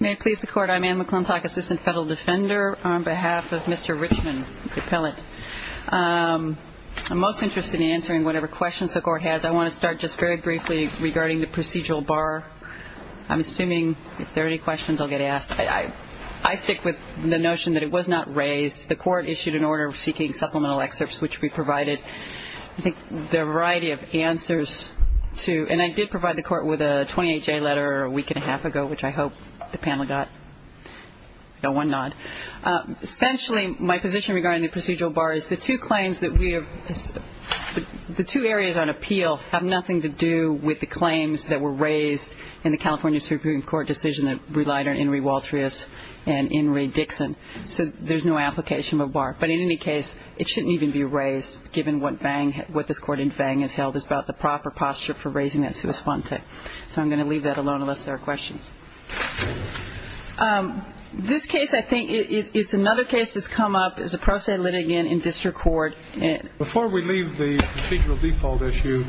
May it please the Court, I'm Anne McClintock, Assistant Federal Defender, on behalf of Mr. Richman, appellate. I'm most interested in answering whatever questions the Court has. I want to start just very briefly regarding the procedural bar. I'm assuming if there are any questions, I'll get asked. I stick with the notion that it was not raised. The Court issued an order seeking supplemental excerpts, which we provided, I think, a variety of answers to. And I did provide the Court with a 28-J letter a week and a half ago, which I hope the panel got one nod. Essentially, my position regarding the procedural bar is the two claims that we have – the two areas on appeal have nothing to do with the claims that were raised in the California Supreme Court decision that relied on Henry Waltrius and Henry Dixon. So there's no application of a bar. But in any case, it shouldn't even be raised, given what this Court in Vang has held, about the proper posture for raising that sua sponte. So I'm going to leave that alone, unless there are questions. This case, I think – it's another case that's come up as a pro se litigant in district court. Before we leave the procedural default issue,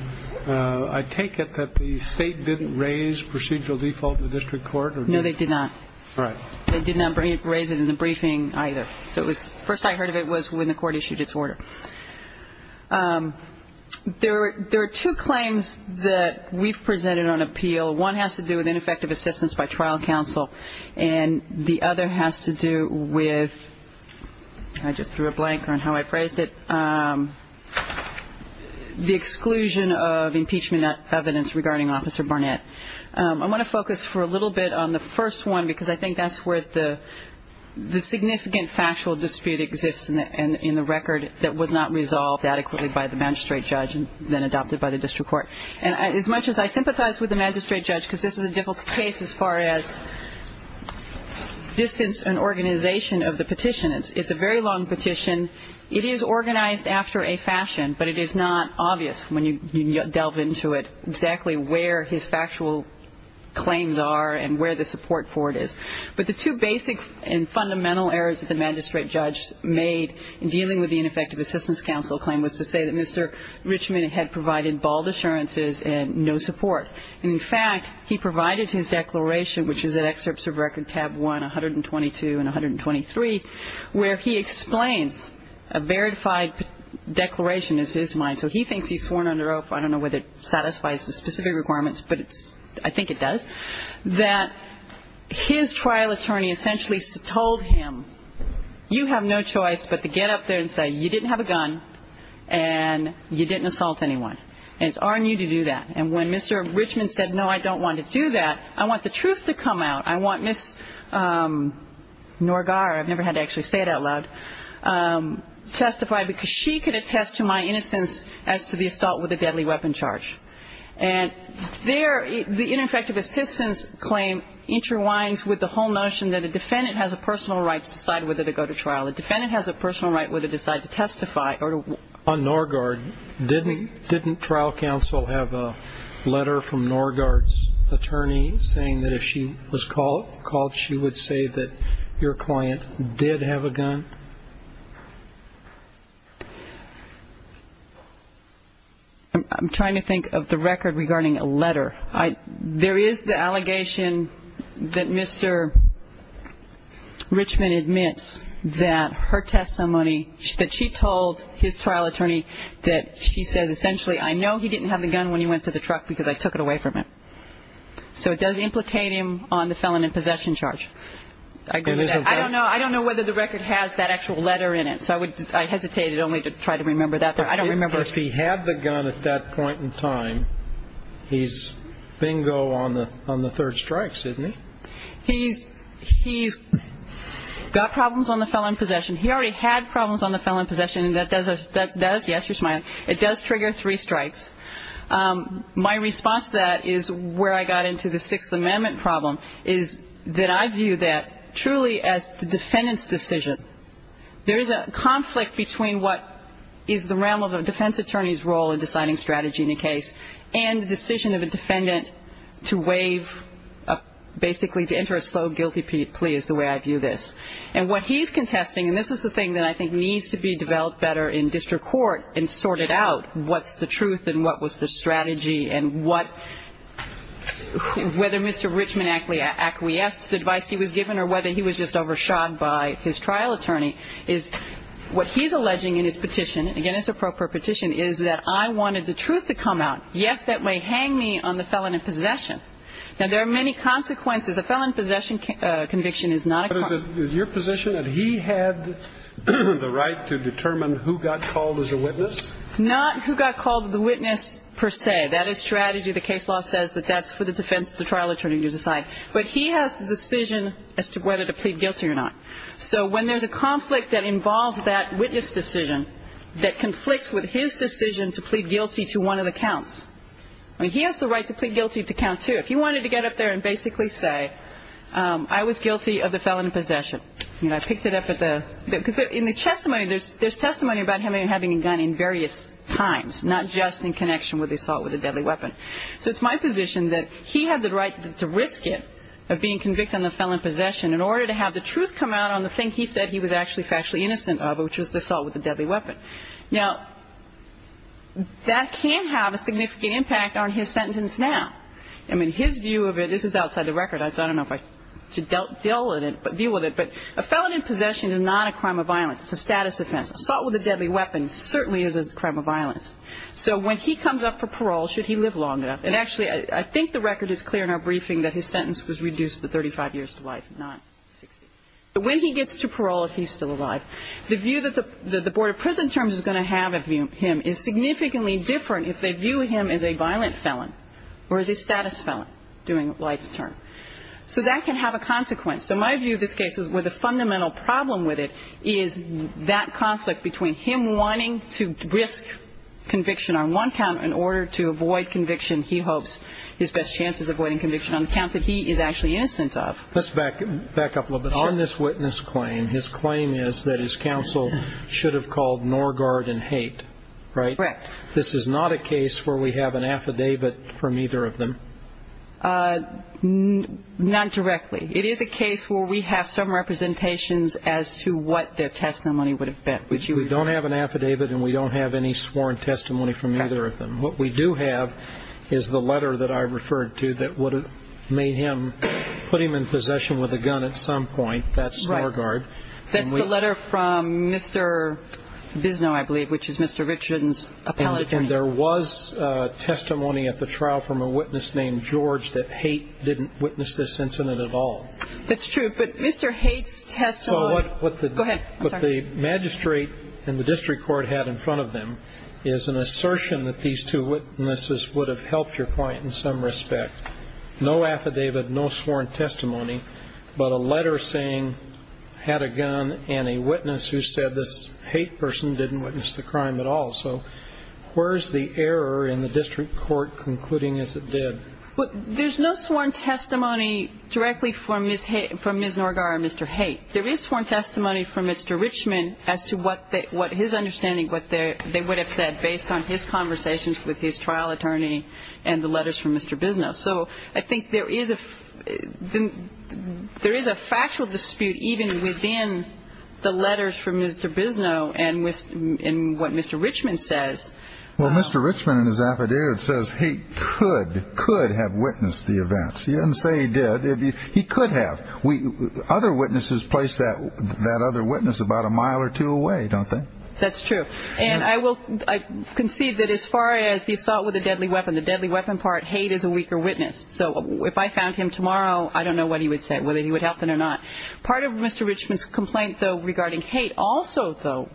I take it that the State didn't raise procedural default in the district court? No, they did not. All right. They did not raise it in the briefing either. So it was – first I heard of it was when the Court issued its order. There are two claims that we've presented on appeal. One has to do with ineffective assistance by trial counsel, and the other has to do with – I just drew a blank on how I phrased it – the exclusion of impeachment evidence regarding Officer Barnett. I want to focus for a little bit on the first one, because I think that's where the significant factual dispute exists in the record that was not resolved adequately by the magistrate judge and then adopted by the district court. And as much as I sympathize with the magistrate judge, because this is a difficult case as far as distance and organization of the petition. It's a very long petition. It is organized after a fashion, but it is not obvious when you delve into it exactly where his factual claims are and where the support for it is. But the two basic and fundamental errors that the magistrate judge made in dealing with the ineffective assistance counsel claim was to say that Mr. Richmond had provided bald assurances and no support. In fact, he provided his declaration, which is at Excerpts of Record, Tab 1, 122 and 123, where he explains a verified declaration is his mind. So he thinks he's sworn under oath. I don't know whether it satisfies the specific requirements, but I think it does. That his trial attorney essentially told him, you have no choice but to get up there and say, you didn't have a gun and you didn't assault anyone, and it's on you to do that. And when Mr. Richmond said, no, I don't want to do that, I want the truth to come out. I want Ms. Norgar, I've never had to actually say it out loud, testified, because she could attest to my innocence as to the assault with a deadly weapon charge. And there, the ineffective assistance claim interwines with the whole notion that a defendant has a personal right to decide whether to go to trial. A defendant has a personal right whether to decide to testify or to work. On Norgar, didn't trial counsel have a letter from Norgar's attorney saying that if she was called, she would say that your client did have a gun? I'm trying to think of the record regarding a letter. There is the allegation that Mr. Richmond admits that her testimony, that she told his trial attorney that she says essentially, I know he didn't have the gun when he went to the truck because I took it away from him. So it does implicate him on the felon in possession charge. I don't know whether the record has that. That actual letter in it. So I hesitated only to try to remember that. I don't remember. If he had the gun at that point in time, he's bingo on the third strike, isn't he? He's got problems on the felon in possession. He already had problems on the felon in possession, and that does, yes, you're smiling, it does trigger three strikes. My response to that is where I got into the Sixth Amendment problem, is that I view that truly as the defendant's decision. There is a conflict between what is the realm of a defense attorney's role in deciding strategy in a case and the decision of a defendant to waive, basically to enter a slow guilty plea is the way I view this. And what he's contesting, and this is the thing that I think needs to be developed better in district court and sorted out, what's the truth and what was the strategy and whether Mr. Richmond acquiesced to the advice he was given or whether he was just overshadowed by his trial attorney, is what he's alleging in his petition, again, it's an appropriate petition, is that I wanted the truth to come out. Yes, that may hang me on the felon in possession. Now, there are many consequences. A felon in possession conviction is not a crime. But is it your position that he had the right to determine who got called as a witness? Not who got called the witness per se. That is strategy. The case law says that that's for the defense, the trial attorney to decide. But he has the decision as to whether to plead guilty or not. So when there's a conflict that involves that witness decision, that conflicts with his decision to plead guilty to one of the counts. He has the right to plead guilty to count two. If he wanted to get up there and basically say, I was guilty of the felon in possession. I picked it up at the – because in the testimony, there's testimony about him having a gun in various times, not just in connection with the assault with a deadly weapon. So it's my position that he had the right to risk it, of being convicted on the felon in possession, in order to have the truth come out on the thing he said he was actually factually innocent of, which was the assault with a deadly weapon. Now, that can have a significant impact on his sentence now. I mean, his view of it – this is outside the record. I don't know if I should deal with it. But a felon in possession is not a crime of violence. It's a status offense. Assault with a deadly weapon certainly is a crime of violence. So when he comes up for parole, should he live long enough – and actually, I think the record is clear in our briefing that his sentence was reduced to 35 years to life, not 60. When he gets to parole, if he's still alive, the view that the Board of Prison Terms is going to have of him is significantly different if they view him as a violent felon or as a status felon during life's term. So that can have a consequence. So my view of this case, where the fundamental problem with it is that conflict between him wanting to risk conviction on one count in order to avoid conviction, he hopes his best chance is avoiding conviction on the count that he is actually innocent of. Let's back up a little bit. On this witness claim, his claim is that his counsel should have called Norgaard in hate, right? Correct. This is not a case where we have an affidavit from either of them? Not directly. It is a case where we have some representations as to what their testimony would have been. We don't have an affidavit, and we don't have any sworn testimony from either of them. What we do have is the letter that I referred to that would have made him put him in possession with a gun at some point. That's Norgaard. That's the letter from Mr. Bisno, I believe, which is Mr. Richardson's appellate attorney. And there was testimony at the trial from a witness named George that hate didn't witness this incident at all. That's true. But Mr. Hate's testimony go ahead. What the magistrate and the district court had in front of them is an assertion that these two witnesses would have helped your point in some respect. No affidavit, no sworn testimony, but a letter saying had a gun and a witness who said this hate person didn't witness the crime at all. So where is the error in the district court concluding as it did? There's no sworn testimony directly from Ms. Norgaard or Mr. Hate. There is sworn testimony from Mr. Richmond as to what his understanding, what they would have said based on his conversations with his trial attorney and the letters from Mr. Bisno. So I think there is a factual dispute even within the letters from Mr. Bisno and what Mr. Richmond says. Well, Mr. Richmond in his affidavit says he could, could have witnessed the events. He doesn't say he did. He could have. Other witnesses place that other witness about a mile or two away, don't they? That's true. And I will concede that as far as the assault with a deadly weapon, the deadly weapon part, hate is a weaker witness. So if I found him tomorrow, I don't know what he would say, whether he would help him or not. Part of Mr. Richmond's complaint, though, regarding hate also, though,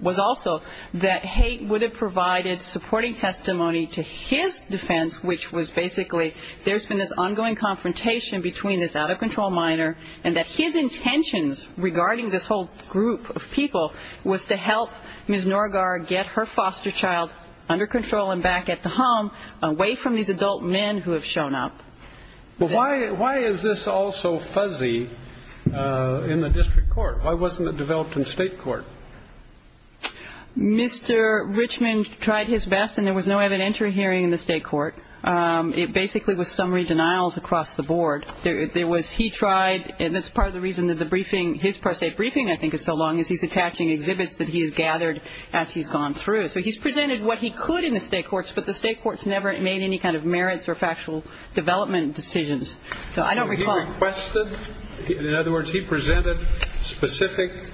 was also that hate would have provided supporting testimony to his defense, which was basically there's been this ongoing confrontation between this out-of-control minor and that his intentions regarding this whole group of people was to help Ms. Norgaard get her foster child under control and back at the home, away from these adult men who have shown up. But why is this all so fuzzy in the district court? Why wasn't it developed in state court? Mr. Richmond tried his best, and there was no evidentiary hearing in the state court. It basically was summary denials across the board. There was he tried, and that's part of the reason that the briefing, his state briefing, I think, is so long is he's attaching exhibits that he has gathered as he's gone through. So he's presented what he could in the state courts, but the state courts never made any kind of merits or factual development decisions. So I don't recall. He requested. In other words, he presented specific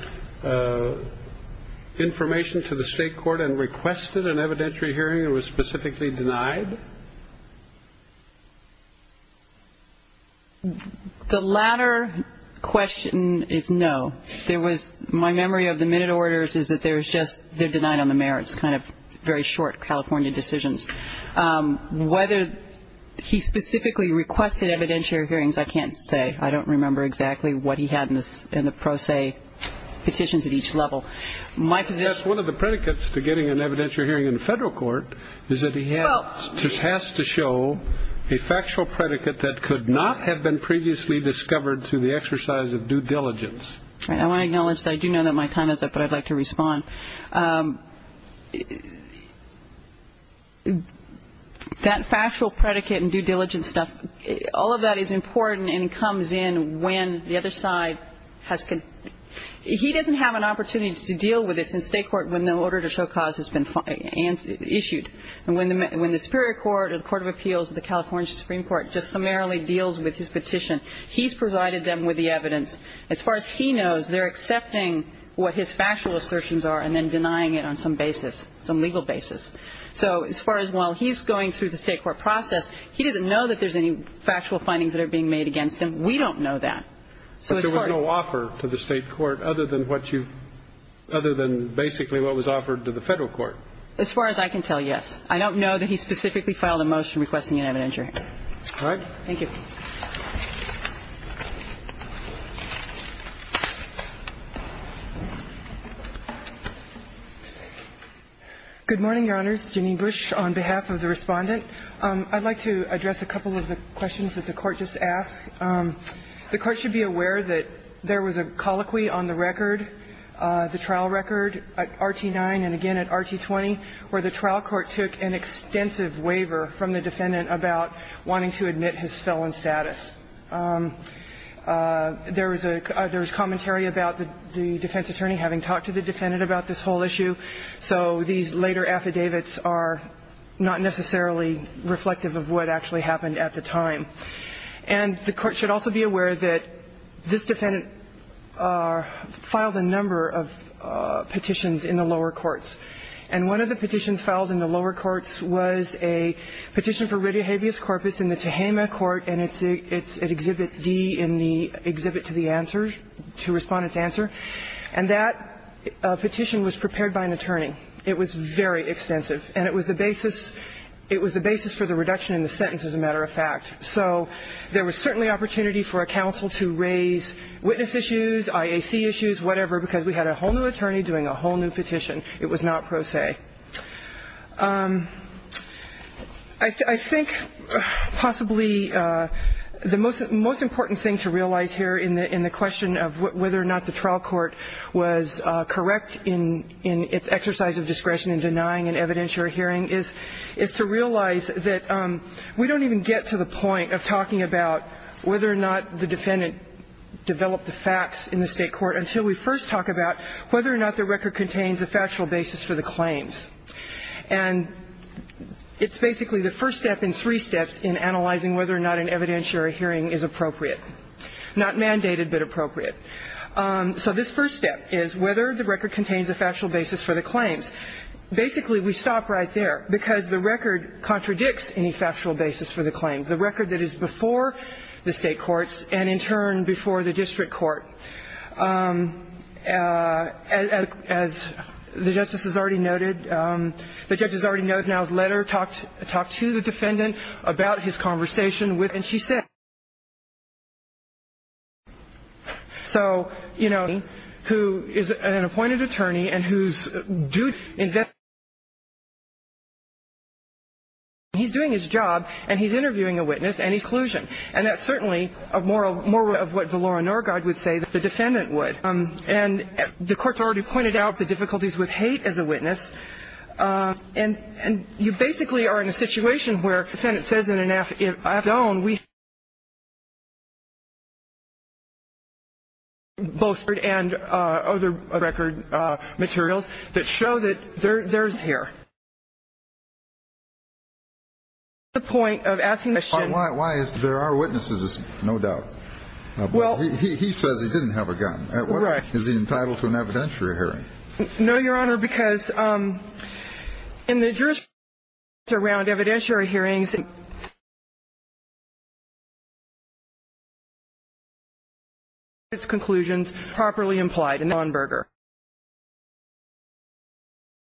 information to the state court and requested an evidentiary hearing that was specifically denied? The latter question is no. There was my memory of the minute orders is that there's just they're denied on the merits, those kind of very short California decisions. Whether he specifically requested evidentiary hearings, I can't say. I don't remember exactly what he had in the pro se petitions at each level. One of the predicates to getting an evidentiary hearing in the federal court is that he has to show a factual predicate that could not have been previously discovered through the exercise of due diligence. All right. I want to acknowledge that I do know that my time is up, but I'd like to respond. That factual predicate and due diligence stuff, all of that is important and comes in when the other side has to. He doesn't have an opportunity to deal with this in state court when the order to show cause has been issued. And when the superior court or the court of appeals of the California Supreme Court just summarily deals with his petition, he's provided them with the evidence. As far as he knows, they're accepting what his factual assertions are and then denying it on some basis, some legal basis. So as far as while he's going through the state court process, he doesn't know that there's any factual findings that are being made against him. We don't know that. But there was no offer to the state court other than what you other than basically what was offered to the federal court. As far as I can tell, yes. I don't know that he specifically filed a motion requesting an evidentiary hearing. All right. Thank you. Good morning, Your Honors. Janine Bush on behalf of the Respondent. I'd like to address a couple of the questions that the Court just asked. The Court should be aware that there was a colloquy on the record, the trial record, RT-9 and again at RT-20, where the trial court took an extensive waiver from the defendant about wanting to admit his felon status. There was a commentary about the defense attorney having talked to the defendant about this whole issue. So these later affidavits are not necessarily reflective of what actually happened at the time. And the Court should also be aware that this defendant filed a number of petitions in the lower courts. And one of the petitions filed in the lower courts was a petition for radiohabeas corpus in the Tehama court, and it's at Exhibit D in the Exhibit to the Answer, to Respondent's Answer. And that petition was prepared by an attorney. It was very extensive. And it was the basis for the reduction in the sentence, as a matter of fact. So there was certainly opportunity for a counsel to raise witness issues, IAC issues, whatever, because we had a whole new attorney doing a whole new petition. It was not pro se. I think possibly the most important thing to realize here in the question of whether or not the trial court was correct in its exercise of discretion in denying an evidence you're hearing is to realize that we don't even get to the point of talking about whether or not the defendant developed the facts in the State court until we first talk about whether or not the record contains a factual basis for the claims. And it's basically the first step in three steps in analyzing whether or not an evidentiary hearing is appropriate. Not mandated, but appropriate. So this first step is whether the record contains a factual basis for the claims. Basically, we stop right there, because the record contradicts any factual basis for the claims. The record that is before the State courts and, in turn, before the district court. As the Justice has already noted, the Judge already knows now has let her talk to the defendant about his conversation with him. And she said, So, you know, who is an appointed attorney and who's doing his job, and he's interviewing a witness and he's collusion. And that's certainly more of what Valora Norgaard would say that the defendant would. And the court's already pointed out the difficulties with hate as a witness. And you basically are in a situation where the defendant says in an affidavit, Both record and other record materials that show that there's here. The point of asking the question. Why is there are witnesses? No doubt. Well, he says he didn't have a gun. Right. Is he entitled to an evidentiary hearing? No, Your Honor, because in the jurisdiction around evidentiary hearings, the defendant's conclusions are properly implied in the Nuremberg case.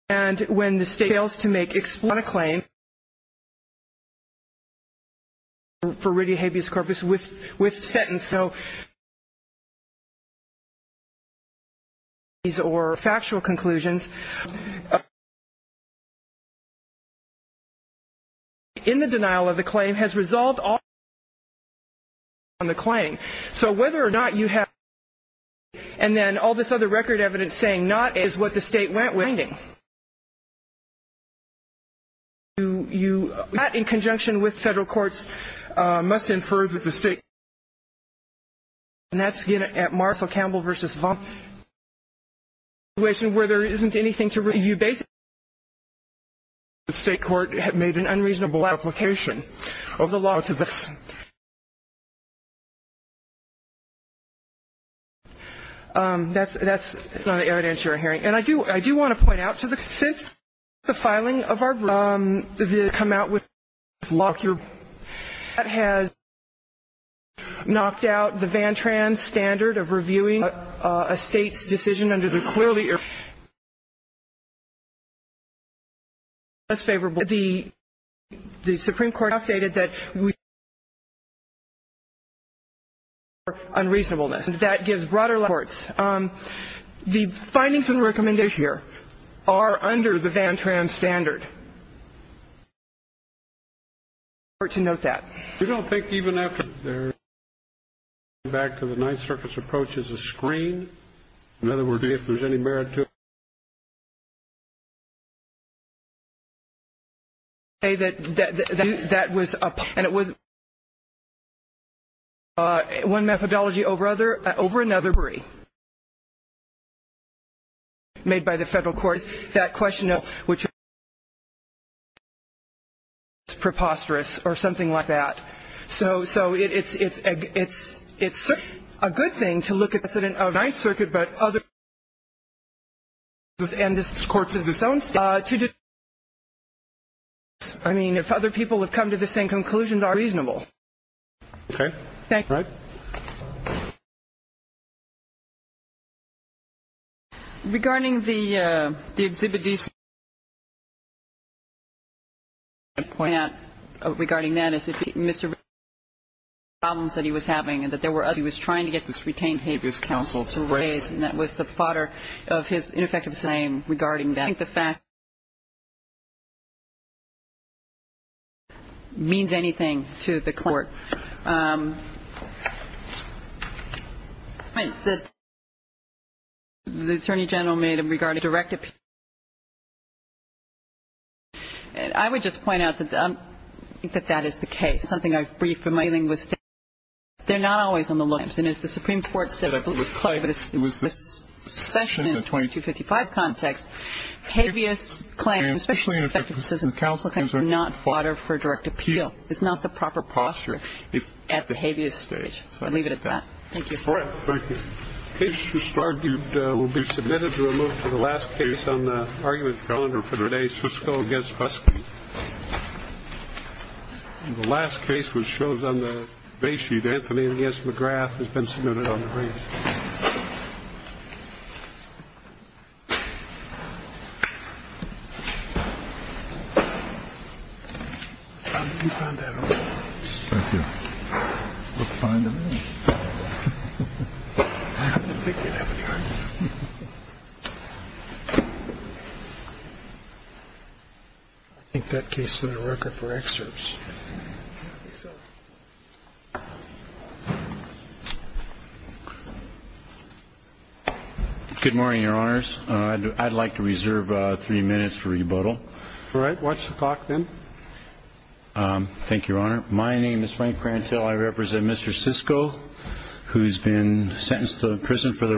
And when the State fails to make a claim for written habeas corpus with sentence, or factual conclusions in the denial of the claim has resolved on the claim. So whether or not you have, and then all this other record evidence saying not is what the State went with. And that's, again, at Marcell Campbell v. Vaughn, a situation where there isn't anything to review basically. The State court had made an unreasonable application of the law to this. That's not an evidentiary hearing. Since the filing of our bra, this has come out with Lockyer. That has knocked out the Vantran standard of reviewing a State's decision under the clearly irrefutable law. That's favorable. The Supreme Court has stated that we have to review the law for unreasonableness. And that gives broader reports. The findings and recommendations here are under the Vantran standard. And I'm going to ask the Court to note that. We don't think even after they're reviewed, they're going back to the Ninth Circuit's approach as a screen. In other words, if there's any merit to it. And it was one methodology over another made by the federal courts. That question, which is preposterous or something like that. So it's a good thing to look at the precedent of the Ninth Circuit but other people have come to the same conclusions are reasonable. Okay. Thank you. All right. Regarding the exhibit D, my point regarding that is that Mr. Vantran had problems that he was having and that there were others. And he was trying to get this retained habeas counsel to raise, and that was the fodder of his ineffective saying regarding that. I don't think the fact that he was trying to get this retained habeas counsel to raise means anything to the court. I think that the Attorney General made a regarding direct appeal. And I would just point out that I think that that is the case. It's something I've briefed in my english. They're not always on the lines. And as the Supreme Court said, I believe it was this session in the 2255 context, habeas claims, especially in an effective decision of counsel, are not fodder for direct appeal. It's not the proper posture at the habeas stage. So I'll leave it at that. Thank you. All right. Thank you. The case just argued will be submitted to a move for the last case on the argument calendar for today, Suscoe v. Fuscoe. The last case which shows on the base sheet, Anthony V. S. McGrath, has been submitted on the range. I think that case is a record for excerpts. All right. Watch the clock then. Thank you, Your Honor. My name is Frank Parenteau. I represent Mr. Suscoe, who's been sentenced to prison for the rest of his life. Watch the clock then. Thank you, Your Honor.